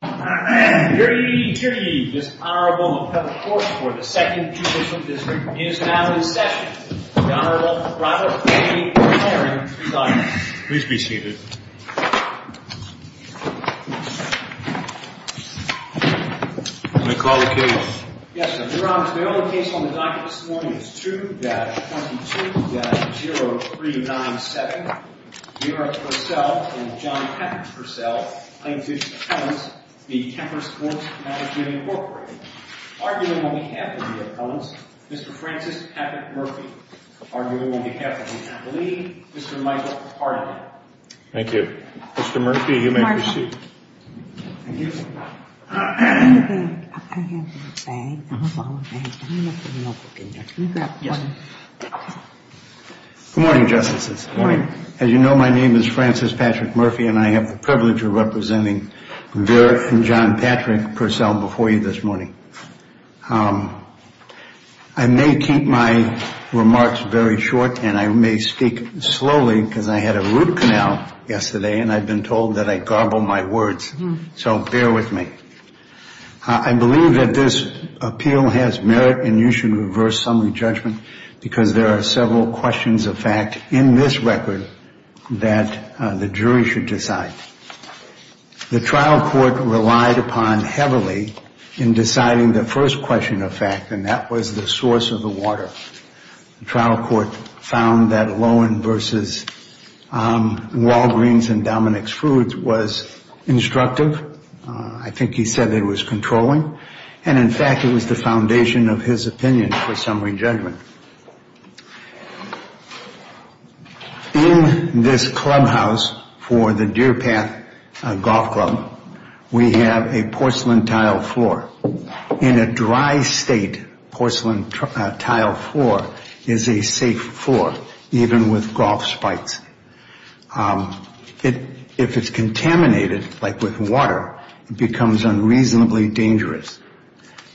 Here to give this Honorable Appellate Court for the 2nd Judicial District is now in session, the Honorable Robert A. McLaren, III. Please be seated. Yes, Your Honor, the only case on the docket this morning is 2-22-0397. Vera Purcell and John Patton Purcell, plaintiff's appellants, v. Kemper Sports Management, Inc. Arguing on behalf of the appellants, Mr. Francis Patton Murphy. Arguing on behalf of the appellee, Mr. Michael Harden. Thank you. Mr. Murphy, you may proceed. Good morning, Justices. Good morning. As you know, my name is Francis Patrick Murphy, and I have the privilege of representing Vera and John Patrick Purcell before you this morning. I may keep my remarks very short, and I may speak slowly because I had a root canal yesterday, and I've been told that I garble my words. So bear with me. I believe that this appeal has merit, and you should reverse some of the judgment because there are several questions of fact in this record that the jury should decide. The trial court relied upon heavily in deciding the first question of fact, and that was the source of the water. The trial court found that Lowen v. Walgreens and Dominick's Foods was instructive. I think he said it was controlling, and in fact, it was the foundation of his opinion for summary judgment. In this clubhouse for the Deer Path Golf Club, we have a porcelain tile floor. In a dry state, porcelain tile floor is a safe floor, even with golf spikes. If it's contaminated, like with water, it becomes unreasonably dangerous.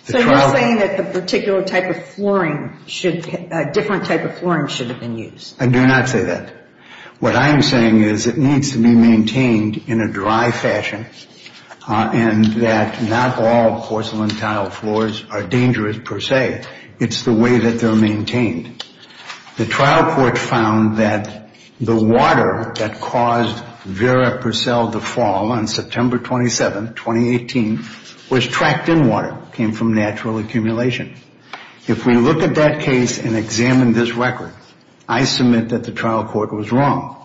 So you're saying that a different type of flooring should have been used? I do not say that. What I'm saying is it needs to be maintained in a dry fashion and that not all porcelain tile floors are dangerous per se. The trial court found that the water that caused Vera Purcell to fall on September 27, 2018, was tracked in water, came from natural accumulation. If we look at that case and examine this record, I submit that the trial court was wrong.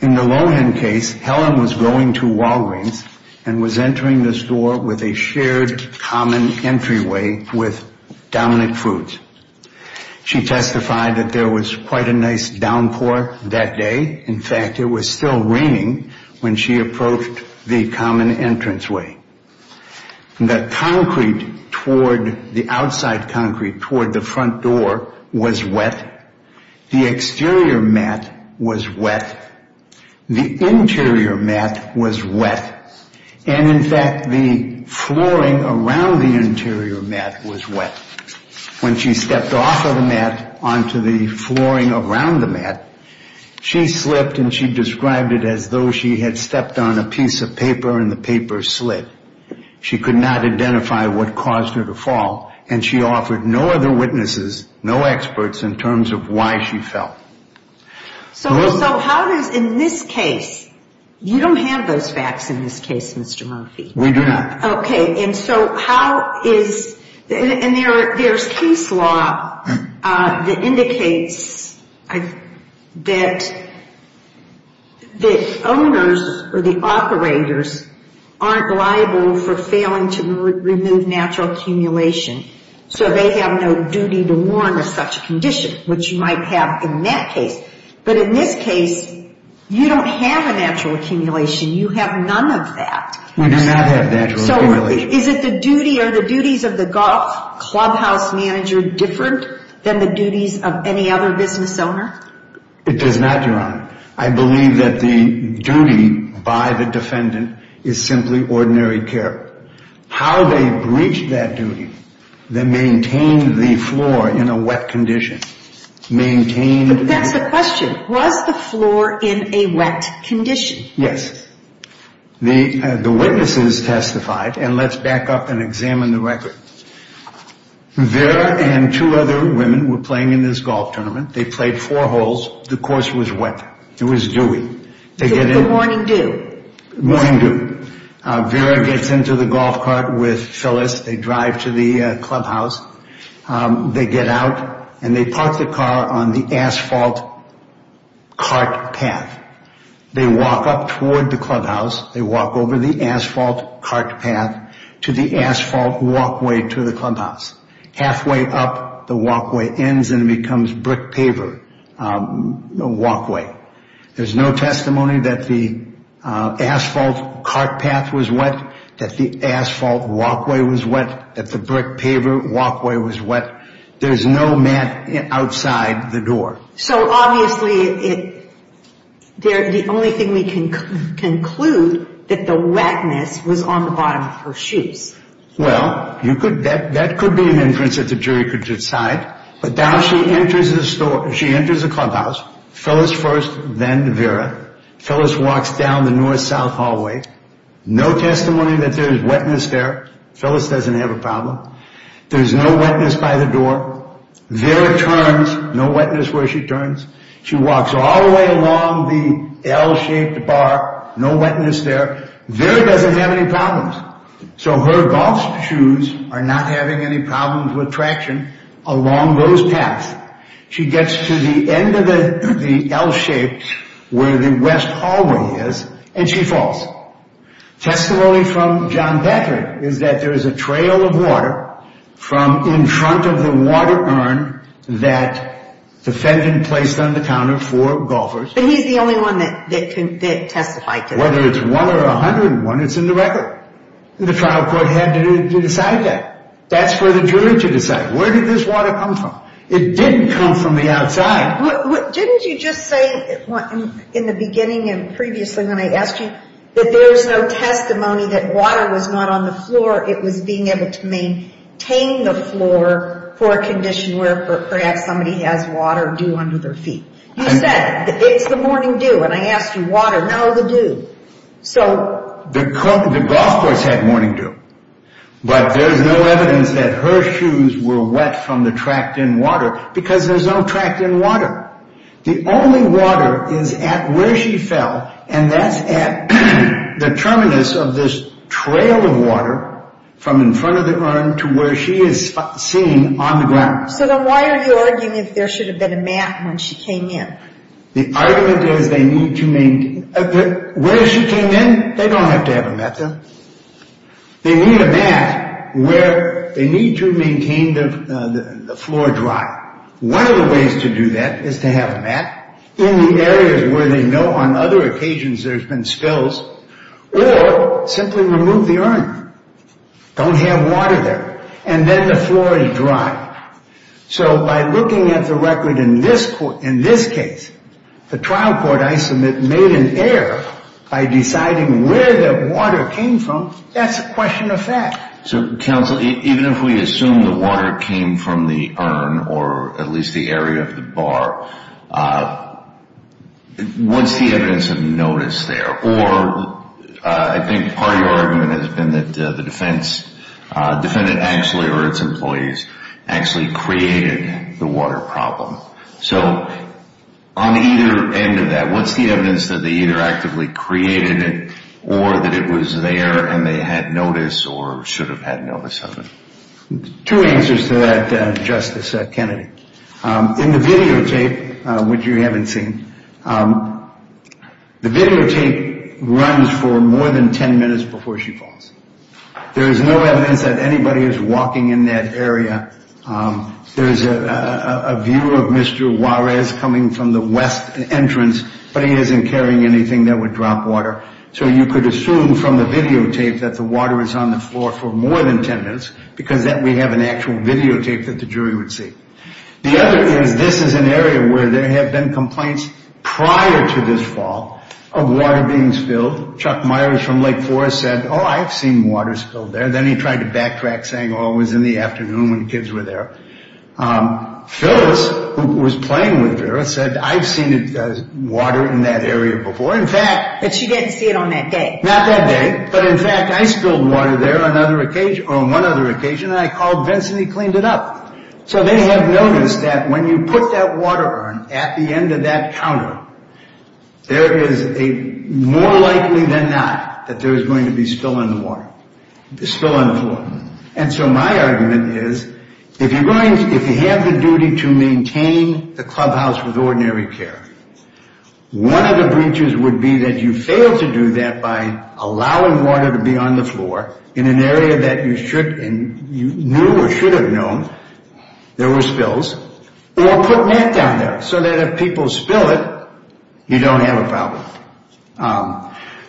In the Lowen case, Helen was going to Walgreens and was entering the store with a shared common entryway with Dominick Foods. She testified that there was quite a nice downpour that day. In fact, it was still raining when she approached the common entranceway. The concrete toward, the outside concrete toward the front door was wet. The exterior mat was wet. The interior mat was wet. And in fact, the flooring around the interior mat was wet. When she stepped off of the mat onto the flooring around the mat, she slipped and she described it as though she had stepped on a piece of paper and the paper slid. She could not identify what caused her to fall and she offered no other witnesses, no experts in terms of why she fell. So how does, in this case, you don't have those facts in this case, Mr. Murphy. We do not. Okay. And so how is, and there's case law that indicates that the owners or the operators aren't liable for failing to remove natural accumulation. So they have no duty to warn of such a condition, which you might have in that case. But in this case, you don't have a natural accumulation. You have none of that. We do not have natural accumulation. So is it the duty, are the duties of the golf clubhouse manager different than the duties of any other business owner? It does not, Your Honor. I believe that the duty by the defendant is simply ordinary care. How they breached that duty, they maintained the floor in a wet condition. Maintained. But that's the question. Was the floor in a wet condition? Yes. The witnesses testified, and let's back up and examine the record. Vera and two other women were playing in this golf tournament. They played four holes. The course was wet. It was dewy. The morning dew. Morning dew. Vera gets into the golf cart with Phyllis. They drive to the clubhouse. They get out, and they park the car on the asphalt cart path. They walk up toward the clubhouse. They walk over the asphalt cart path to the asphalt walkway to the clubhouse. Halfway up, the walkway ends, and it becomes brick paver walkway. There's no testimony that the asphalt cart path was wet, that the asphalt walkway was wet, that the brick paver walkway was wet. There's no mat outside the door. So, obviously, the only thing we can conclude that the wetness was on the bottom of her shoes. Well, that could be an inference that the jury could decide. But now she enters the clubhouse, Phyllis first, then Vera. Phyllis walks down the north-south hallway. No testimony that there's wetness there. Phyllis doesn't have a problem. There's no wetness by the door. Vera turns. No wetness where she turns. She walks all the way along the L-shaped bar. No wetness there. Vera doesn't have any problems. So her golf shoes are not having any problems with traction along those paths. She gets to the end of the L-shaped where the west hallway is, and she falls. Testimony from John Patrick is that there is a trail of water from in front of the water urn that defendant placed on the counter for golfers. But he's the only one that testified to that. Whether it's one or a hundred and one, it's in the record. The trial court had to decide that. That's for the jury to decide. Where did this water come from? It didn't come from the outside. Didn't you just say in the beginning and previously when I asked you that there's no testimony that water was not on the floor? It was being able to maintain the floor for a condition where perhaps somebody has water due under their feet. You said it's the morning dew, and I asked you water. No, the dew. So the golf course had morning dew. But there's no evidence that her shoes were wet from the tract in water because there's no tract in water. The only water is at where she fell, and that's at the terminus of this trail of water from in front of the urn to where she is seen on the ground. So then why are you arguing if there should have been a mat when she came in? The argument is they need to maintain. Where she came in, they don't have to have a mat there. They need a mat where they need to maintain the floor dry. One of the ways to do that is to have a mat in the areas where they know on other occasions there's been spills or simply remove the urn. Don't have water there. And then the floor is dry. So by looking at the record in this case, the trial court I submit made an error by deciding where the water came from. That's a question of fact. So, counsel, even if we assume the water came from the urn or at least the area of the bar, what's the evidence of notice there? Or I think part of your argument has been that the defendant actually or its employees actually created the water problem. So on either end of that, what's the evidence that they either actively created it or that it was there and they had notice or should have had notice of it? Two answers to that, Justice Kennedy. In the videotape, which you haven't seen, the videotape runs for more than ten minutes before she falls. There is no evidence that anybody is walking in that area. There is a view of Mr. Juarez coming from the west entrance, but he isn't carrying anything that would drop water. So you could assume from the videotape that the water is on the floor for more than ten minutes because we have an actual videotape that the jury would see. The other is this is an area where there have been complaints prior to this fall of water being spilled. Chuck Myers from Lake Forest said, oh, I've seen water spilled there. Then he tried to backtrack, saying, oh, it was in the afternoon when the kids were there. Phyllis, who was playing with Vera, said, I've seen water in that area before. But she didn't see it on that day. Not that day. But in fact, I spilled water there on one other occasion and I called Vince and he cleaned it up. So they have noticed that when you put that water on at the end of that counter, there is a more likely than not that there is going to be spill on the floor. And so my argument is, if you have the duty to maintain the clubhouse with ordinary care, one of the breaches would be that you fail to do that by allowing water to be on the floor in an area that you knew or should have known there were spills, or putting it down there so that if people spill it, you don't have a problem.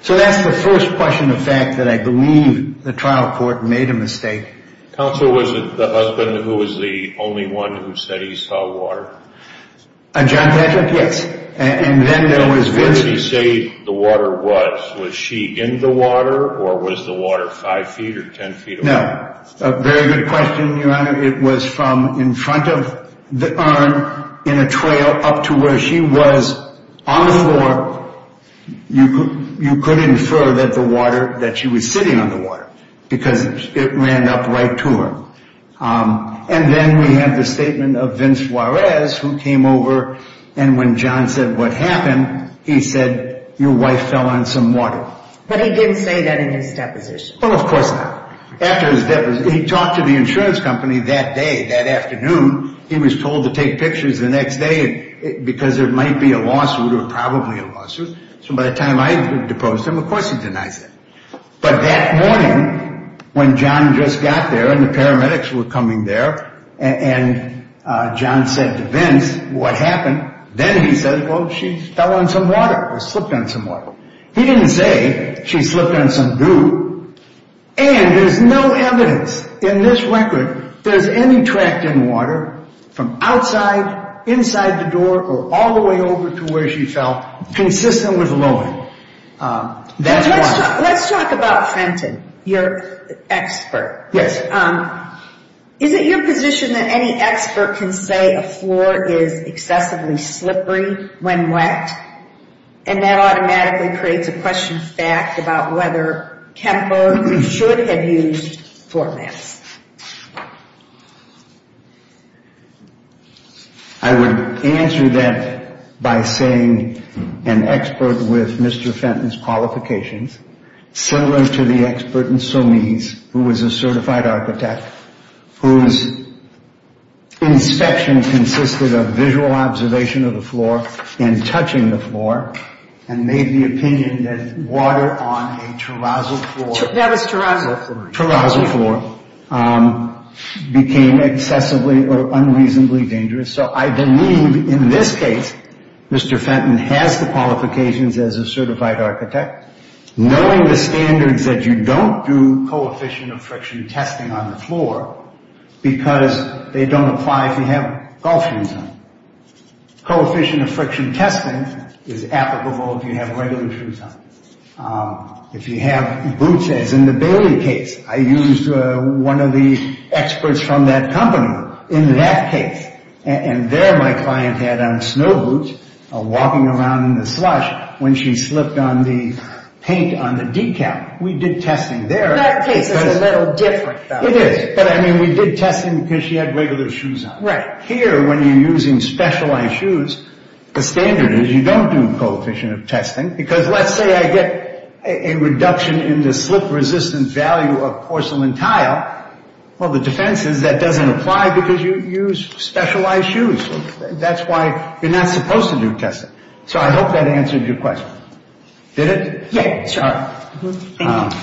So that's the first question of fact that I believe the trial court made a mistake. Counsel, was it the husband who was the only one who said he saw water? John Patrick, yes. And then there was Vince. When did he say the water was? Was she in the water or was the water five feet or ten feet away? A very good question, Your Honor. It was from in front of the urn in a trail up to where she was on the floor. You could infer that the water that she was sitting on the water because it ran up right to her. And then we have the statement of Vince Juarez who came over. And when John said what happened, he said your wife fell on some water. But he didn't say that in his deposition. Well, of course not. After his deposition, he talked to the insurance company that day, that afternoon. He was told to take pictures the next day because there might be a lawsuit or probably a lawsuit. So by the time I deposed him, of course he denies it. But that morning when John just got there and the paramedics were coming there and John said to Vince what happened, then he said, well, she fell on some water or slipped on some water. He didn't say she slipped on some dew. And there's no evidence in this record there's any track in water from outside, inside the door, or all the way over to where she fell consistent with loading. That's why. Let's talk about Fenton, your expert. Yes. Is it your position that any expert can say a floor is excessively slippery when wet and that automatically creates a question of fact about whether Kemper should have used floor mats? I would answer that by saying an expert with Mr. Fenton's qualifications, similar to the expert in Somese who was a certified architect, whose inspection consisted of visual observation of the floor and touching the floor and made the opinion that water on a terrazzo floor became excessively or unreasonably dangerous. So I believe in this case Mr. Fenton has the qualifications as a certified architect. Knowing the standards that you don't do coefficient of friction testing on the floor because they don't apply if you have golf shoes on. Coefficient of friction testing is applicable if you have regular shoes on. If you have boots, as in the Bailey case, I used one of the experts from that company in that case. And there my client had on snow boots walking around in the slush when she slipped on the paint on the decal. We did testing there. That case is a little different though. It is, but I mean we did testing because she had regular shoes on. Right. Here when you're using specialized shoes, the standard is you don't do coefficient of testing because let's say I get a reduction in the slip resistant value of porcelain tile. Well, the defense is that doesn't apply because you use specialized shoes. That's why you're not supposed to do testing. So I hope that answered your question. Did it? Yes, sir. Thank you.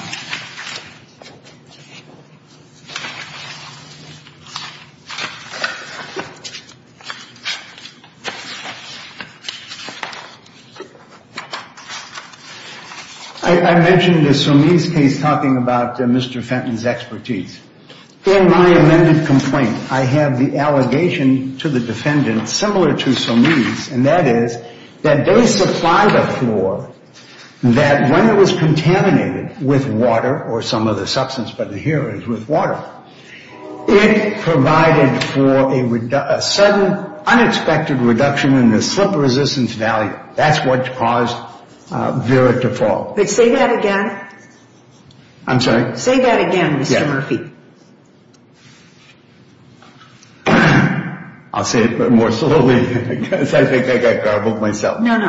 I mentioned the Sommese case talking about Mr. Fenton's expertise. In my amended complaint, I have the allegation to the defendant similar to Sommese, and that is that they supplied a floor that when it was contaminated with water or some other substance, but here it is with water, it provided for a sudden unexpected reduction in the slip resistance value. That's what caused Vera to fall. Say that again. I'm sorry? Say that again, Mr. Murphy. I'll say it more slowly because I think I got garbled myself. No, no.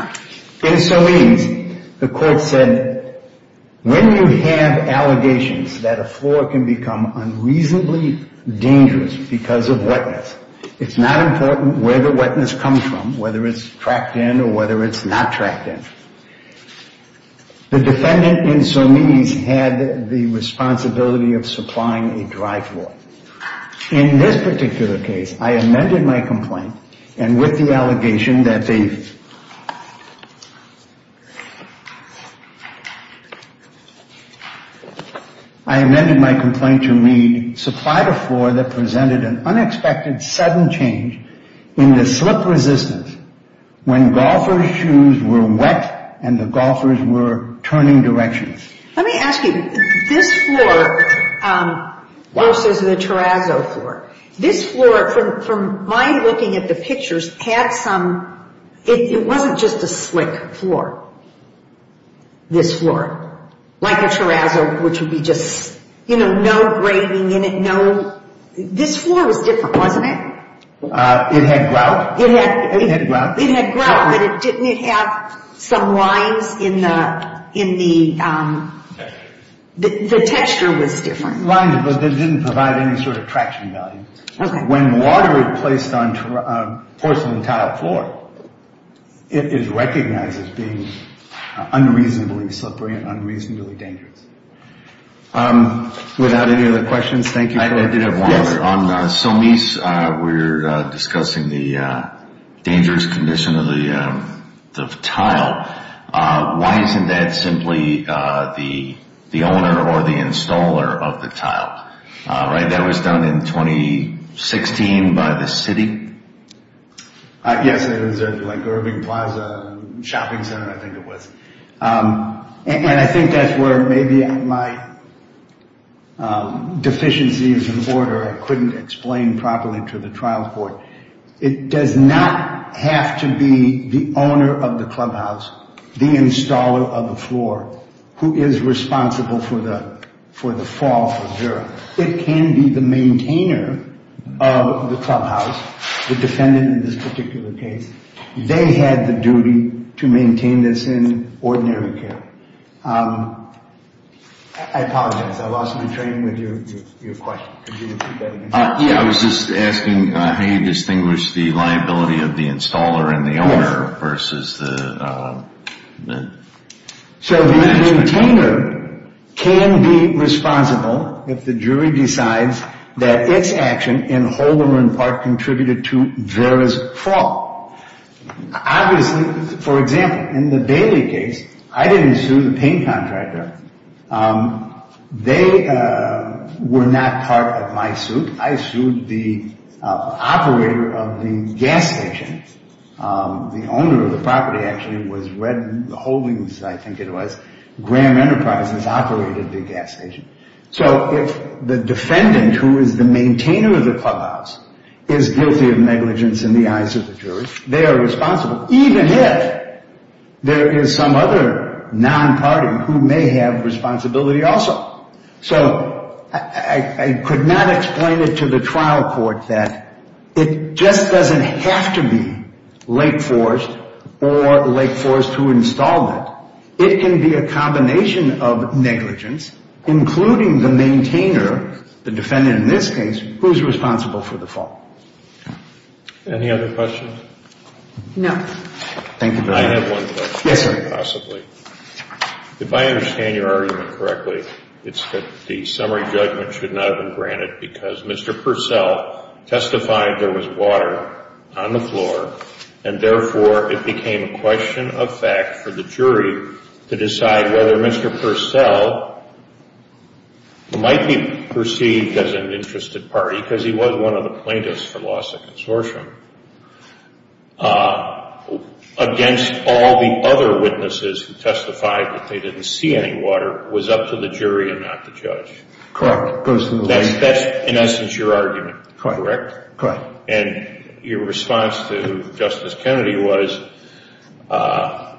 In Sommese, the court said when you have allegations that a floor can become unreasonably dangerous because of wetness, it's not important where the wetness comes from, whether it's tracked in or whether it's not tracked in. The defendant in Sommese had the responsibility of supplying a dry floor. In this particular case, I amended my complaint, and with the allegation that they – I amended my complaint to read, that presented an unexpected sudden change in the slip resistance when golfer's shoes were wet and the golfers were turning directions. Let me ask you, this floor versus the terrazzo floor, this floor, from my looking at the pictures, had some – it wasn't just a slick floor, this floor. Like a terrazzo, which would be just, you know, no grating in it, no – this floor was different, wasn't it? It had grout. It had grout. It had grout, but it didn't have some lines in the – the texture was different. Lines, but it didn't provide any sort of traction value. When water is placed on porcelain tile floor, it is recognized as being unreasonably slippery and unreasonably dangerous. Without any other questions, thank you. I did have one. On Sommese, we're discussing the dangerous condition of the tile. Why isn't that simply the owner or the installer of the tile? Right, that was done in 2016 by the city? Yes, it was like Irving Plaza Shopping Center, I think it was. And I think that's where maybe my deficiencies in order, I couldn't explain properly to the trial court. It does not have to be the owner of the clubhouse, the installer of the floor, who is responsible for the fall of the terrazzo. It can be the maintainer of the clubhouse, the defendant in this particular case. They had the duty to maintain this in ordinary care. I apologize, I lost my train with your question. Yeah, I was just asking how you distinguish the liability of the installer and the owner versus the... So the maintainer can be responsible if the jury decides that its action in Holderman Park contributed to Vera's fall. Obviously, for example, in the Bailey case, I didn't sue the paint contractor. They were not part of my suit. I sued the operator of the gas station. The owner of the property actually was Red Holdings, I think it was. Graham Enterprises operated the gas station. So if the defendant who is the maintainer of the clubhouse is guilty of negligence in the eyes of the jury, they are responsible. Even if there is some other non-party who may have responsibility also. So I could not explain it to the trial court that it just doesn't have to be Lake Forest or Lake Forest who installed it. It can be a combination of negligence, including the maintainer, the defendant in this case, who is responsible for the fall. Any other questions? No. Thank you very much. I have one question. Yes, sir. If I understand your argument correctly, it's that the summary judgment should not have been granted because Mr. Purcell testified there was water on the floor and therefore it became a question of fact for the jury to decide whether Mr. Purcell might be perceived as an interested party because he was one of the plaintiffs for loss of consortium against all the other witnesses who testified that they didn't see any water, was up to the jury and not the judge. Correct. That's in essence your argument, correct? Correct. And your response to Justice Kennedy was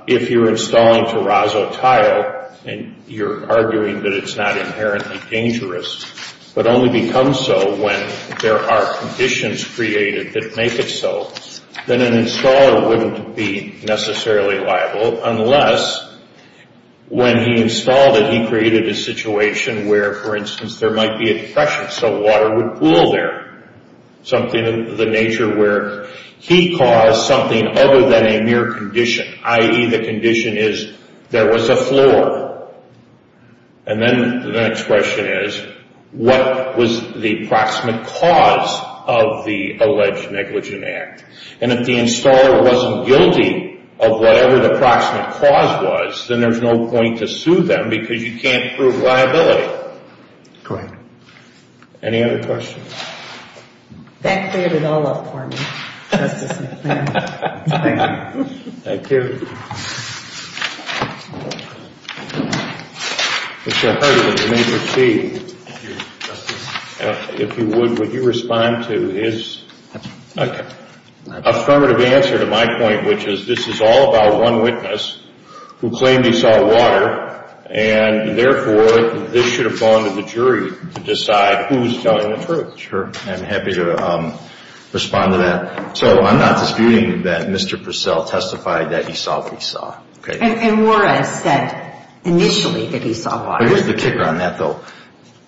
if you're installing terrazzo tile and you're arguing that it's not inherently dangerous but only becomes so when there are conditions created that make it so, then an installer wouldn't be necessarily liable unless when he installed it he created a situation where, for instance, there might be a depression so water would pool there, something of the nature where he caused something other than a mere condition, i.e. the condition is there was a floor. And then the next question is what was the approximate cause of the alleged negligent act? And if the installer wasn't guilty of whatever the approximate cause was, then there's no point to sue them because you can't prove liability. Correct. Any other questions? That cleared it all up for me, Justice McClendon. Thank you. Thank you. Mr. Hurley, you may proceed. Thank you, Justice. If you would, would you respond to his affirmative answer to my point which is this is all about one witness who claimed he saw water and therefore this should have gone to the jury to decide who was telling the truth. Sure. I'm happy to respond to that. So I'm not disputing that Mr. Purcell testified that he saw what he saw. And Warren said initially that he saw water. Here's the kicker on that, though.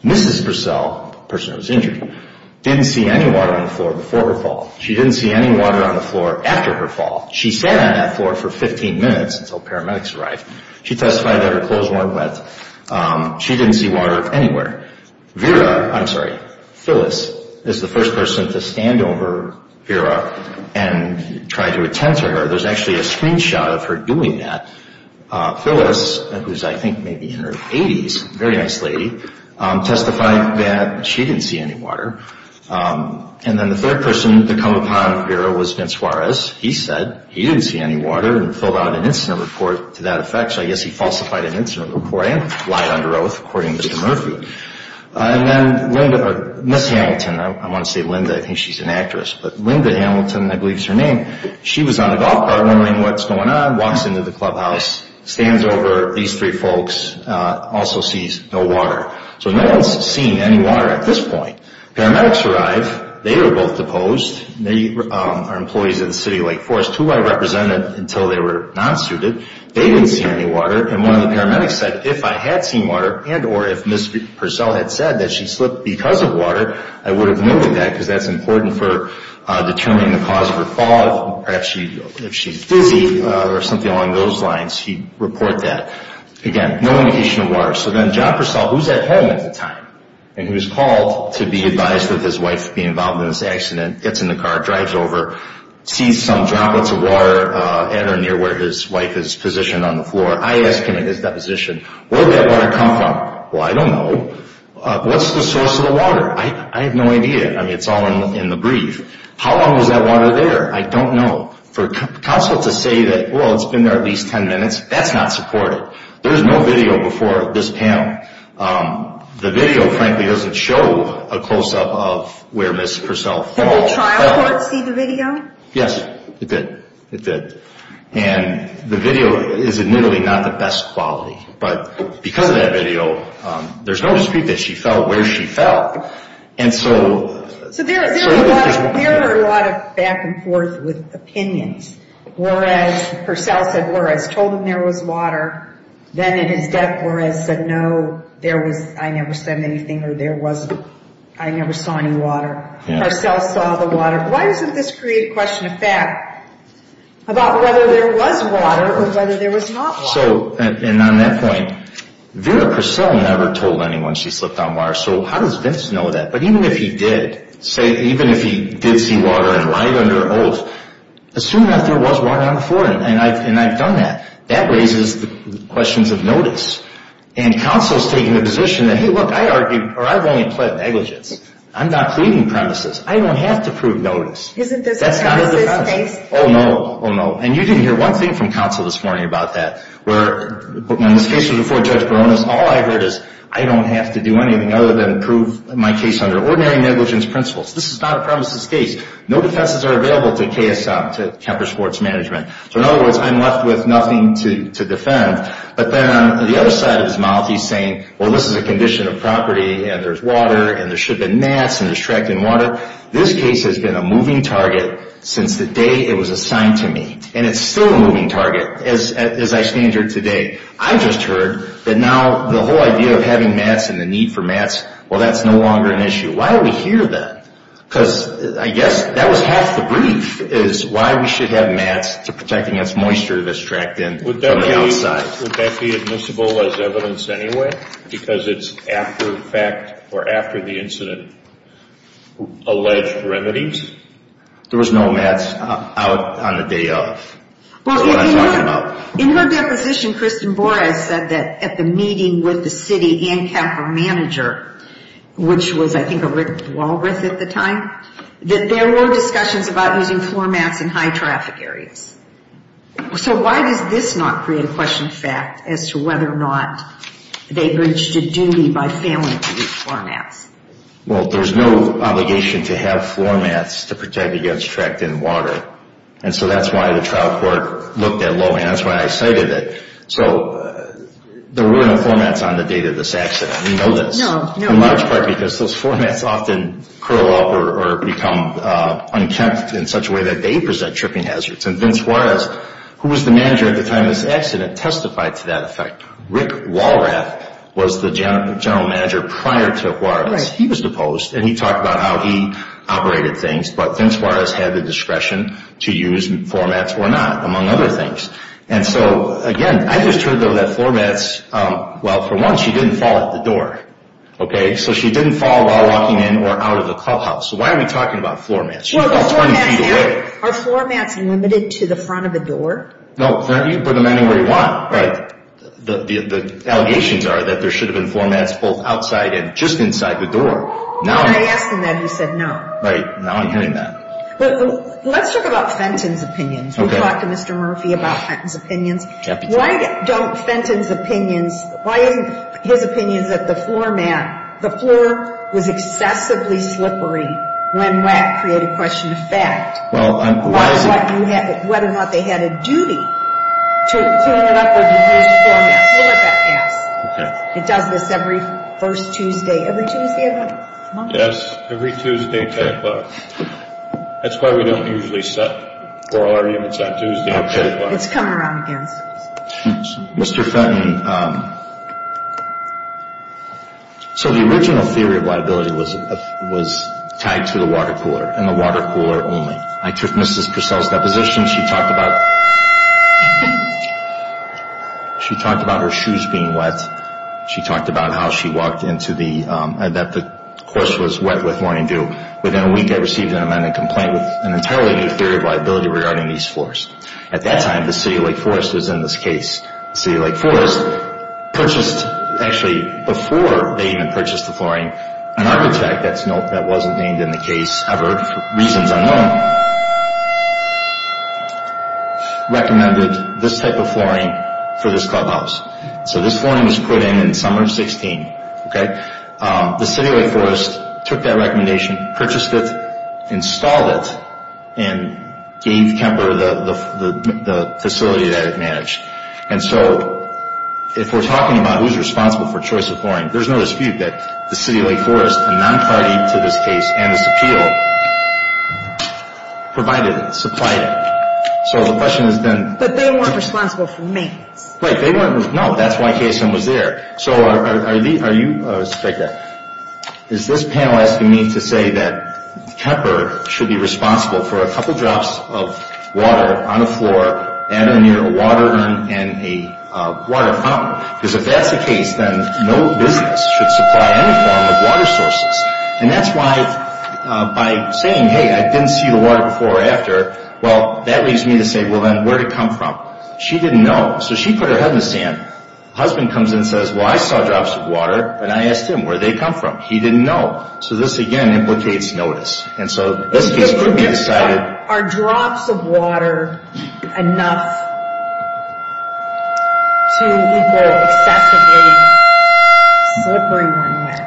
Mrs. Purcell, the person who was injured, didn't see any water on the floor before her fall. She didn't see any water on the floor after her fall. She sat on that floor for 15 minutes until paramedics arrived. She testified that her clothes weren't wet. She didn't see water anywhere. Vera, I'm sorry, Phyllis is the first person to stand over Vera and try to attend to her. There's actually a screenshot of her doing that. Phyllis, who's I think maybe in her 80s, very nice lady, testified that she didn't see any water. And then the third person to come upon Vera was Vince Juarez. He said he didn't see any water and filled out an incident report to that effect. So I guess he falsified an incident report and lied under oath, according to Mr. Murphy. And then Linda, or Miss Hamilton, I want to say Linda. I think she's an actress. But Linda Hamilton, I believe is her name, she was on the golf cart wondering what's going on, walks into the clubhouse, stands over these three folks, also sees no water. So no one's seen any water at this point. Paramedics arrived. They were both deposed. They are employees of the City of Lake Forest, who I represented until they were non-suited. They didn't see any water. And one of the paramedics said if I had seen water and or if Miss Purcell had said that she slipped because of water, I would have moved that because that's important for determining the cause of her fall. Perhaps if she's dizzy or something along those lines, he'd report that. Again, no indication of water. So then John Purcell, who's at home at the time, and he was called to be advised that his wife be involved in this accident, gets in the car, drives over, sees some droplets of water at or near where his wife is positioned on the floor. I ask him at his deposition, where did that water come from? Well, I don't know. What's the source of the water? I have no idea. I mean, it's all in the brief. How long was that water there? I don't know. For counsel to say that, well, it's been there at least 10 minutes, that's not supportive. There was no video before this panel. The video, frankly, doesn't show a close-up of where Ms. Purcell fell. Did the trial court see the video? Yes, it did. It did. And the video is admittedly not the best quality. But because of that video, there's no dispute that she fell where she fell. And so, So there are a lot of back and forth with opinions. Whereas, Purcell said whereas, told him there was water. Then in his death, whereas said no, there was, I never said anything or there wasn't. I never saw any water. Purcell saw the water. Why doesn't this create a question of fact about whether there was water or whether there was not water? So, and on that point, Vera Purcell never told anyone she slipped on water. So how does Vince know that? But even if he did, say, even if he did see water and lied under oath, assume that there was water on the floor, and I've done that. That raises the questions of notice. And counsel's taking the position that, hey, look, I argued, or I've only pled negligence. I'm not pleading premises. I don't have to prove notice. Isn't this a premises case? Oh, no. Oh, no. And you didn't hear one thing from counsel this morning about that. When this case was before Judge Barones, all I heard is, I don't have to do anything other than prove my case under ordinary negligence principles. This is not a premises case. No defenses are available to KSM, to Kemper Sports Management. So in other words, I'm left with nothing to defend. But then on the other side of his mouth, he's saying, well, this is a condition of property, and there's water, and there should have been mats, and there's track and water. This case has been a moving target since the day it was assigned to me. And it's still a moving target as I stand here today. I just heard that now the whole idea of having mats and the need for mats, well, that's no longer an issue. Why are we here then? Because I guess that was half the brief, is why we should have mats to protect against moisture that's tracked in from the outside. Would that be admissible as evidence anyway? Because it's after the fact or after the incident alleged remedies? There was no mats out on the day of. That's what I'm talking about. In her deposition, Kristen Borres said that at the meeting with the city and Kemper manager, which was, I think, a Rick Walroth at the time, that there were discussions about using floor mats in high-traffic areas. So why does this not create a question of fact as to whether or not they breached a duty by failing to use floor mats? Well, there's no obligation to have floor mats to protect against track and water. And so that's why the trial court looked at Loewy, and that's why I cited it. So there were no floor mats on the day of this accident. We know this. No, no. In large part because those floor mats often curl up or become unkempt in such a way that they present tripping hazards. And Vince Juarez, who was the manager at the time of this accident, testified to that effect. Rick Walroth was the general manager prior to Juarez. He was deposed, and he talked about how he operated things. But Vince Juarez had the discretion to use floor mats or not, among other things. And so, again, I just heard, though, that floor mats, well, for one, she didn't fall at the door. Okay? So she didn't fall while walking in or out of the clubhouse. So why are we talking about floor mats? She was about 20 feet away. Are floor mats limited to the front of the door? No. You can put them anywhere you want. Right. The allegations are that there should have been floor mats both outside and just inside the door. When I asked him that, he said no. Right. Now I'm hearing that. Let's talk about Fenton's opinions. We talked to Mr. Murphy about Fenton's opinions. Why don't Fenton's opinions, why isn't his opinion that the floor mat, the floor was excessively slippery when WAC created question of fact? Well, I'm. Whether or not they had a duty to clean it up or to use floor mats. We'll let that pass. Okay. It does this every first Tuesday. Every Tuesday of every month? Yes. Every Tuesday at 10 o'clock. That's why we don't usually set floor mats on Tuesday at 10 o'clock. It's coming around again. Mr. Fenton, so the original theory of liability was tied to the water cooler and the water cooler only. I took Mrs. Purcell's deposition. She talked about her shoes being wet. She talked about how she walked into the, that the course was wet with morning dew. Within a week, I received an amended complaint with an entirely new theory of liability regarding these floors. At that time, the City of Lake Forest was in this case. The City of Lake Forest purchased, actually, before they even purchased the flooring, an architect that wasn't named in the case ever for reasons unknown, recommended this type of flooring for this clubhouse. So this flooring was put in in summer of 16. The City of Lake Forest took that recommendation, purchased it, installed it, and gave Kemper the facility that it managed. And so if we're talking about who's responsible for choice of flooring, there's no dispute that the City of Lake Forest, a non-party to this case and this appeal, provided it, supplied it. So the question has been... But they weren't responsible for maintenance. Right, they weren't... No, that's why KSM was there. So is this panel asking me to say that Kemper should be responsible for a couple drops of water on the floor and near a water run and a water fountain? Because if that's the case, then no business should supply any form of water sources. And that's why by saying, hey, I didn't see the water before or after, well, that leaves me to say, well, then where did it come from? She didn't know, so she put her head in the sand. The husband comes in and says, well, I saw drops of water, and I asked him, where did they come from? He didn't know. So this, again, implicates notice. And so this case could be decided... Are drops of water enough to equate excessively slippery runway?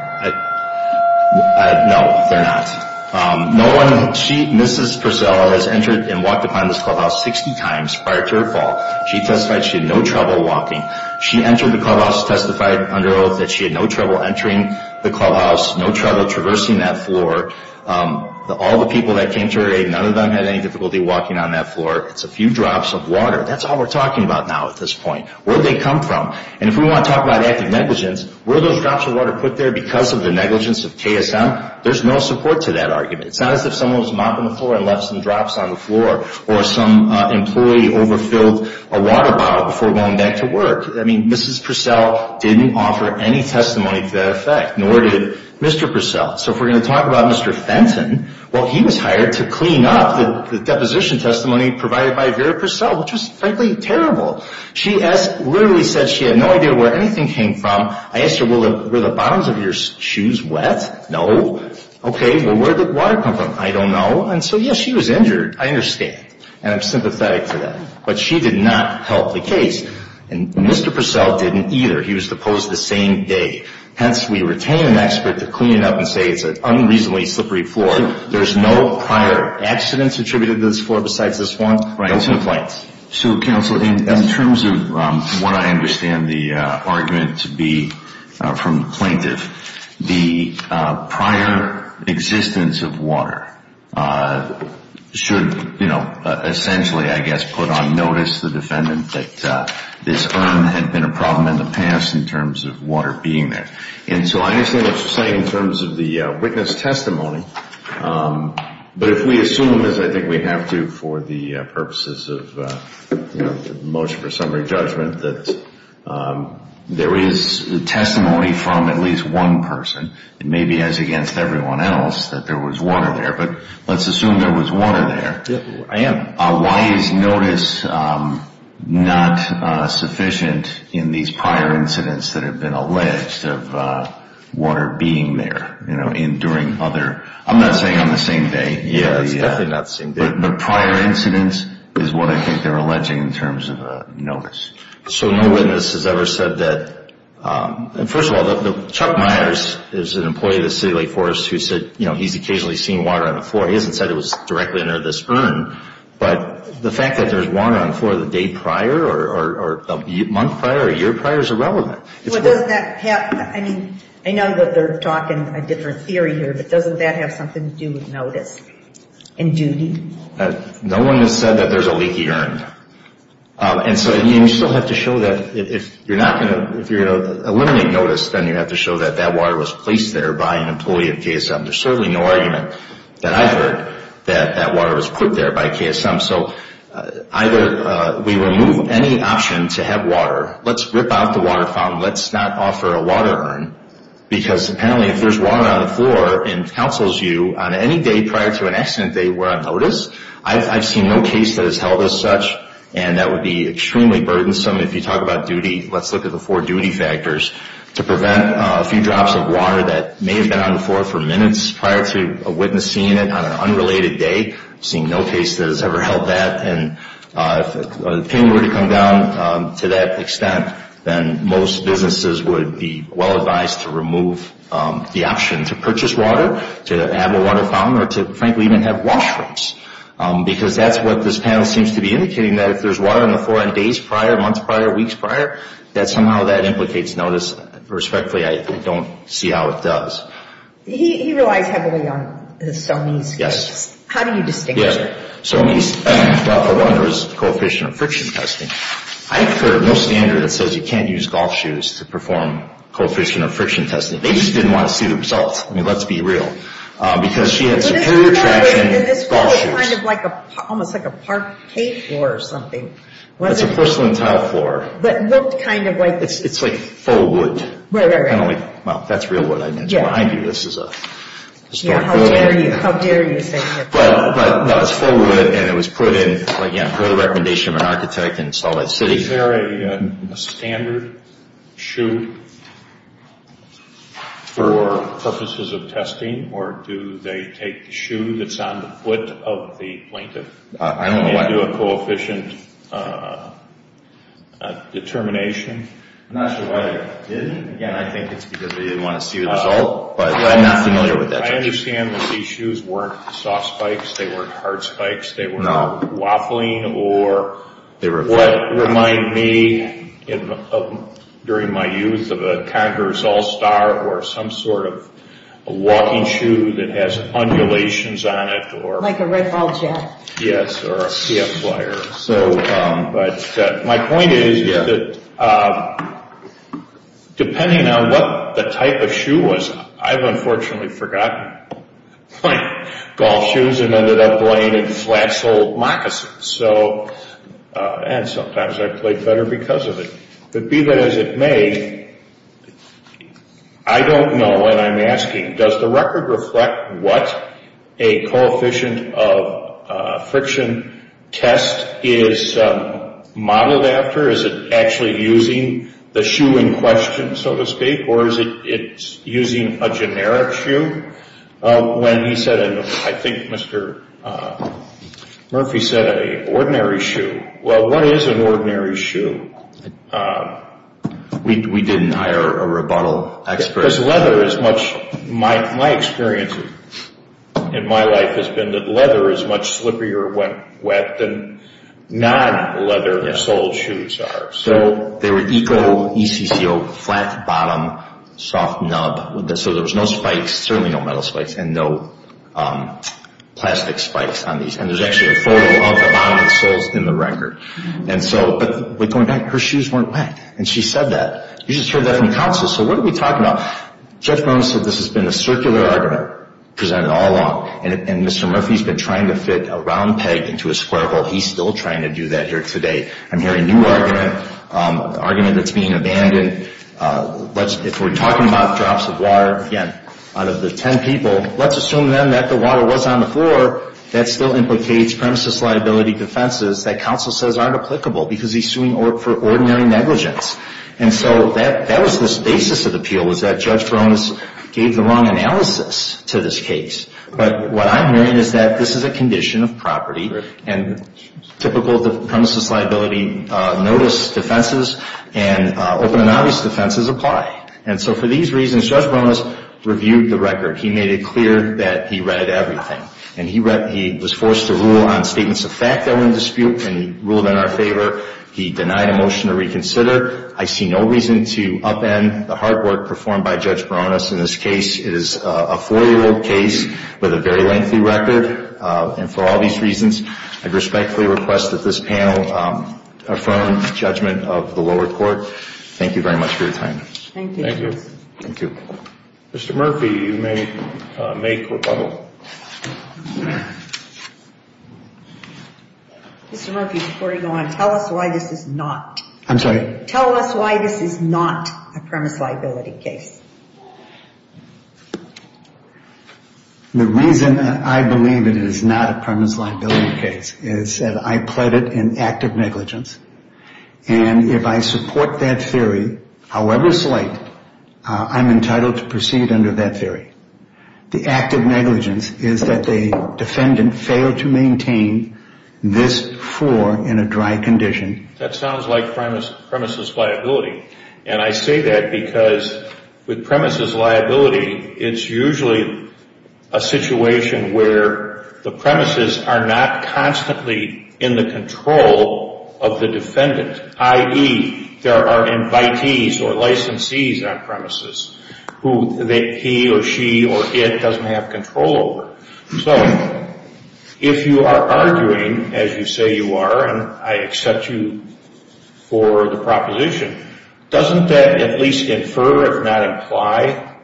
No, they're not. No one... Mrs. Purcell has entered and walked upon this clubhouse 60 times prior to her fall. She testified she had no trouble walking. She entered the clubhouse, testified under oath that she had no trouble entering the clubhouse, no trouble traversing that floor. All the people that came to her aid, none of them had any difficulty walking on that floor. It's a few drops of water. That's all we're talking about now at this point. Where did they come from? And if we want to talk about active negligence, were those drops of water put there because of the negligence of KSM? There's no support to that argument. It's not as if someone was mopping the floor and left some drops on the floor or some employee overfilled a water bottle before going back to work. I mean, Mrs. Purcell didn't offer any testimony to that effect, nor did Mr. Purcell. So if we're going to talk about Mr. Fenton, well, he was hired to clean up the deposition testimony provided by Vera Purcell, which was frankly terrible. She literally said she had no idea where anything came from. I asked her, were the bottoms of your shoes wet? No. Okay, well, where did the water come from? I don't know. And so, yes, she was injured, I understand, and I'm sympathetic to that. But she did not help the case, and Mr. Purcell didn't either. He was deposed the same day. Hence, we retain an expert to clean it up and say it's an unreasonably slippery floor. There's no prior accidents attributed to this floor besides this one. Those are the points. So, Counsel, in terms of what I understand the argument to be from the plaintiff, the prior existence of water should, you know, essentially, I guess, put on notice the defendant that this urn had been a problem in the past in terms of water being there. And so I understand what you're saying in terms of the witness testimony. But if we assume, as I think we have to for the purposes of, you know, from at least one person, and maybe as against everyone else, that there was water there. But let's assume there was water there. I am. Why is notice not sufficient in these prior incidents that have been alleged of water being there, you know, during other – I'm not saying on the same day. Yeah, it's definitely not the same day. But prior incidents is what I think they're alleging in terms of notice. So no witness has ever said that – and first of all, Chuck Myers is an employee of the City of Lake Forest who said, you know, he's occasionally seen water on the floor. He hasn't said it was directly under this urn. But the fact that there's water on the floor the day prior or a month prior or a year prior is irrelevant. Well, doesn't that have – I mean, I know that they're talking a different theory here, but doesn't that have something to do with notice and duty? No one has said that there's a leaky urn. And so you still have to show that if you're not going to – if you're going to eliminate notice, then you have to show that that water was placed there by an employee of KSM. There's certainly no argument that I've heard that that water was put there by KSM. So either we remove any option to have water, let's rip out the water fountain, let's not offer a water urn, because apparently if there's water on the floor and counsels you on any day prior to an accident they were on notice, I've seen no case that has held as such. And that would be extremely burdensome if you talk about duty. Let's look at the four duty factors. To prevent a few drops of water that may have been on the floor for minutes prior to a witness seeing it on an unrelated day, I've seen no case that has ever held that. And if the pain were to come down to that extent, then most businesses would be well advised to remove the option to purchase water, to have a water fountain, or to frankly even have washrooms. Because that's what this panel seems to be indicating, that if there's water on the floor on days prior, months prior, weeks prior, that somehow that implicates notice. Respectfully, I don't see how it does. He relies heavily on his SOMES case. Yes. How do you distinguish it? Yeah. SOMES – well, for one, there's coefficient of friction testing. I've heard no standard that says you can't use golf shoes to perform coefficient of friction testing. They just didn't want to see the results. I mean, let's be real. Because she had superior traction in golf shoes. And this floor is kind of like a – almost like a parquet floor or something. That's a porcelain tile floor. That looked kind of like – It's like faux wood. Right, right, right. Kind of like – well, that's real wood. It's behind you. This is a – Yeah, how dare you. How dare you say that. But, no, it's faux wood, and it was put in, again, per the recommendation of an architect in Salt Lake City. Is there a standard shoe? For purposes of testing? Or do they take the shoe that's on the foot of the plaintiff and do a coefficient determination? I'm not sure why they did it. Again, I think it's because they didn't want to see the result. But I'm not familiar with that. I understand that these shoes weren't soft spikes. They weren't hard spikes. They weren't waffling. Or what reminded me, during my youth, of a Congress All-Star or some sort of walking shoe that has undulations on it. Like a Red Ball Jack. Yes, or a CF Flyer. But my point is that, depending on what the type of shoe was, I've unfortunately forgotten my golf shoes and ended up playing in flat sole moccasins. And sometimes I've played better because of it. But be that as it may, I don't know, and I'm asking, does the record reflect what a coefficient of friction test is modeled after? Is it actually using the shoe in question, so to speak? Or is it using a generic shoe? When he said, and I think Mr. Murphy said, an ordinary shoe. Well, what is an ordinary shoe? We didn't hire a rebuttal expert. Because leather is much, my experience in my life has been that leather is much slipperier when wet than non-leather sole shoes are. So they were eco, ECCO, flat bottom, soft nub. So there was no spikes, certainly no metal spikes, and no plastic spikes on these. And there's actually a photo of the bottom of the soles in the record. But going back, her shoes weren't wet. And she said that. You just heard that from counsel. So what are we talking about? Judge Brown said this has been a circular argument presented all along. And Mr. Murphy's been trying to fit a round peg into a square hole. He's still trying to do that here today. I'm hearing a new argument, an argument that's being abandoned. If we're talking about drops of water, again, out of the ten people, let's assume then that the water was on the floor, that still implicates premises liability defenses that counsel says aren't applicable because he's suing for ordinary negligence. And so that was the basis of the appeal, was that Judge Brown gave the wrong analysis to this case. And typical premises liability notice defenses and open and obvious defenses apply. And so for these reasons, Judge Baronis reviewed the record. He made it clear that he read everything. And he was forced to rule on statements of fact that were in dispute, and he ruled in our favor. He denied a motion to reconsider. I see no reason to upend the hard work performed by Judge Baronis in this case. It is a four-year-old case with a very lengthy record. And for all these reasons, I respectfully request that this panel affirm judgment of the lower court. Thank you very much for your time. Thank you. Thank you. Mr. Murphy, you may make rebuttal. Mr. Murphy, before you go on, tell us why this is not. I'm sorry? Tell us why this is not a premise liability case. The reason I believe it is not a premise liability case is that I pled it in active negligence. And if I support that theory, however slight, I'm entitled to proceed under that theory. The active negligence is that the defendant failed to maintain this floor in a dry condition. That sounds like premises liability. And I say that because with premises liability, it's usually a situation where the premises are not constantly in the control of the defendant, i.e., there are invitees or licensees on premises who he or she or it doesn't have control over. So if you are arguing, as you say you are, and I accept you for the proposition, doesn't that at least infer, if not imply,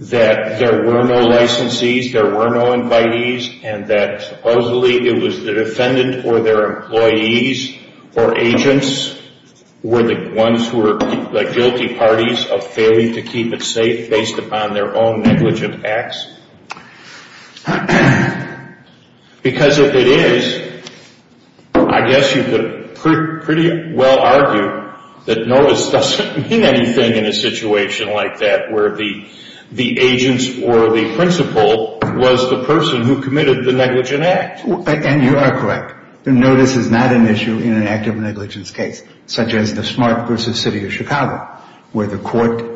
that there were no licensees, there were no invitees, and that supposedly it was the defendant or their employees or agents were the ones who were the guilty parties of failing to keep it safe based upon their own negligent acts? Because if it is, I guess you could pretty well argue that notice doesn't mean anything in a situation like that where the agents or the principal was the person who committed the negligent act. And you are correct. Notice is not an issue in an active negligence case such as the Smart v. City of Chicago where the court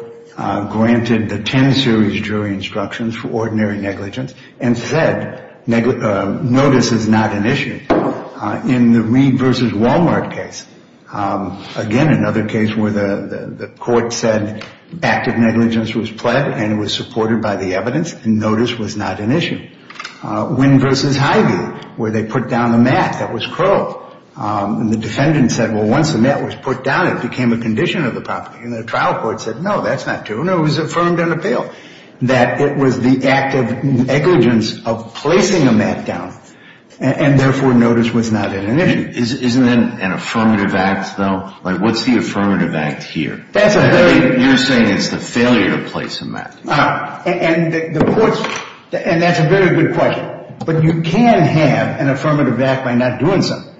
granted the 10-series jury instructions for ordinary negligence and said notice is not an issue. In the Reid v. Walmart case, again, another case where the court said active negligence was pled and was supported by the evidence and notice was not an issue. Wynn v. Hyvee where they put down a mat that was curled. And the defendant said, well, once the mat was put down, it became a condition of the property. And the trial court said, no, that's not true. No, it was affirmed and appealed that it was the active negligence of placing a mat down and therefore notice was not an issue. Isn't that an affirmative act, though? Like what's the affirmative act here? That's a very... You're saying it's the failure to place a mat. And that's a very good question. But you can have an affirmative act by not doing something.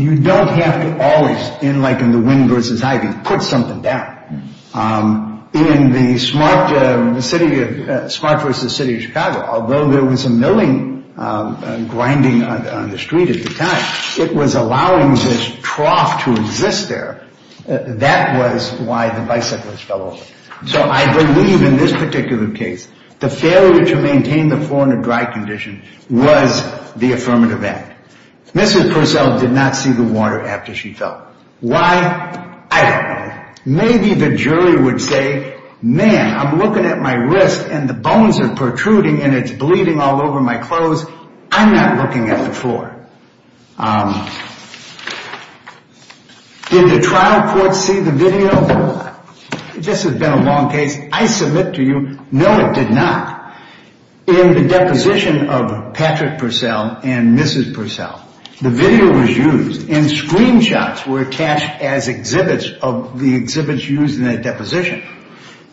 You don't have to always, like in the Wynn v. Hyvee, put something down. In the Smart v. City of Chicago, although there was a milling grinding on the street at the time, it was allowing this trough to exist there. That was why the bicyclists fell over. So I believe in this particular case, the failure to maintain the floor in a dry condition was the affirmative act. Mrs. Purcell did not see the water after she fell. Why? I don't know. Maybe the jury would say, man, I'm looking at my wrist and the bones are protruding and it's bleeding all over my clothes. I'm not looking at the floor. Did the trial court see the video? This has been a long case. I submit to you, no, it did not. In the deposition of Patrick Purcell and Mrs. Purcell, the video was used and screenshots were attached as exhibits of the exhibits used in that deposition.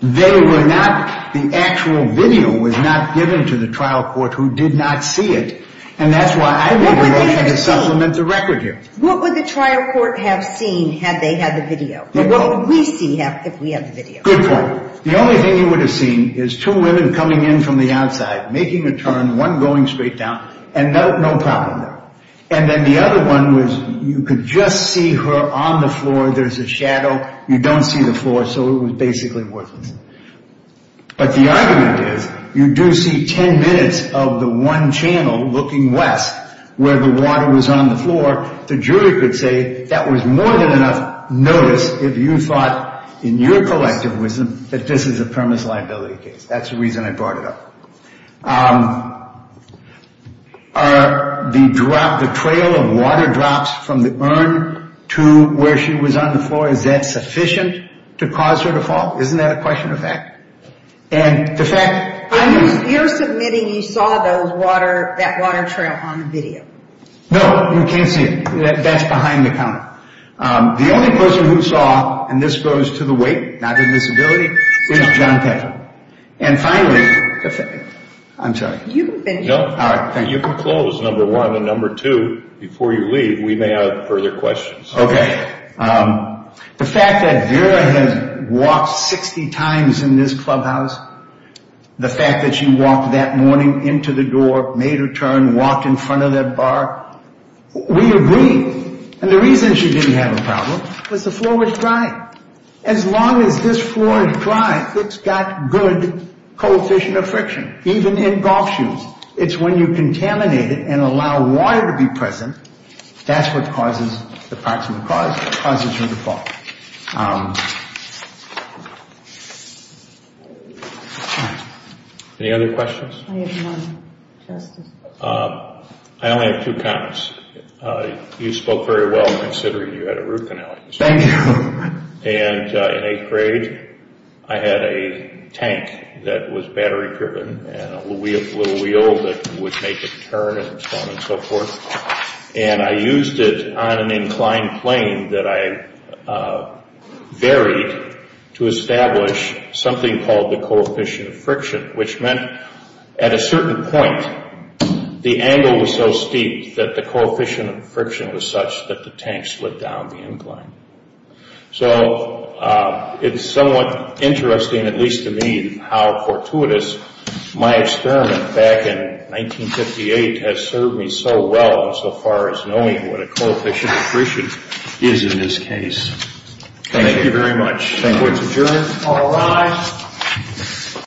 They were not, the actual video was not given to the trial court who did not see it. And that's why I'm looking to supplement the record here. What would the trial court have seen had they had the video? What would we see if we had the video? Good point. The only thing you would have seen is two women coming in from the outside, making a turn, one going straight down, and no problem there. And then the other one was you could just see her on the floor. There's a shadow. You don't see the floor, so it was basically worthless. But the argument is you do see ten minutes of the one channel looking west where the water was on the floor. The jury could say that was more than enough notice if you thought, in your collective wisdom, that this is a premise liability case. That's the reason I brought it up. Are the trail of water drops from the urn to where she was on the floor, is that sufficient to cause her to fall? Isn't that a question of fact? And the fact is. You're submitting you saw that water trail on the video. No, you can't see it. That's behind the counter. The only person who saw, and this goes to the weight, not the disability, is John Petty. And finally. I'm sorry. You can close, number one. And number two, before you leave, we may have further questions. Okay. The fact that Vera had walked 60 times in this clubhouse, the fact that she walked that morning into the door, made her turn, walked in front of that bar. We agree. And the reason she didn't have a problem was the floor was dry. As long as this floor is dry, it's got good coefficient of friction. Even in golf shoes. It's when you contaminate it and allow water to be present, that's what causes the approximate cause. It causes her to fall. Okay. Any other questions? I have one, Justice. I only have two comments. You spoke very well considering you had a root canal. Thank you. And in eighth grade, I had a tank that was battery driven and a little wheel that would make it turn and so on and so forth. And I used it on an inclined plane that I varied to establish something called the coefficient of friction, which meant at a certain point, the angle was so steep that the coefficient of friction was such that the tank slid down the incline. So, it's somewhat interesting, at least to me, how fortuitous my experiment back in 1958 has served me so well so far as knowing what a coefficient of friction is in this case. Thank you very much. Thank you. It's adjourned. All rise.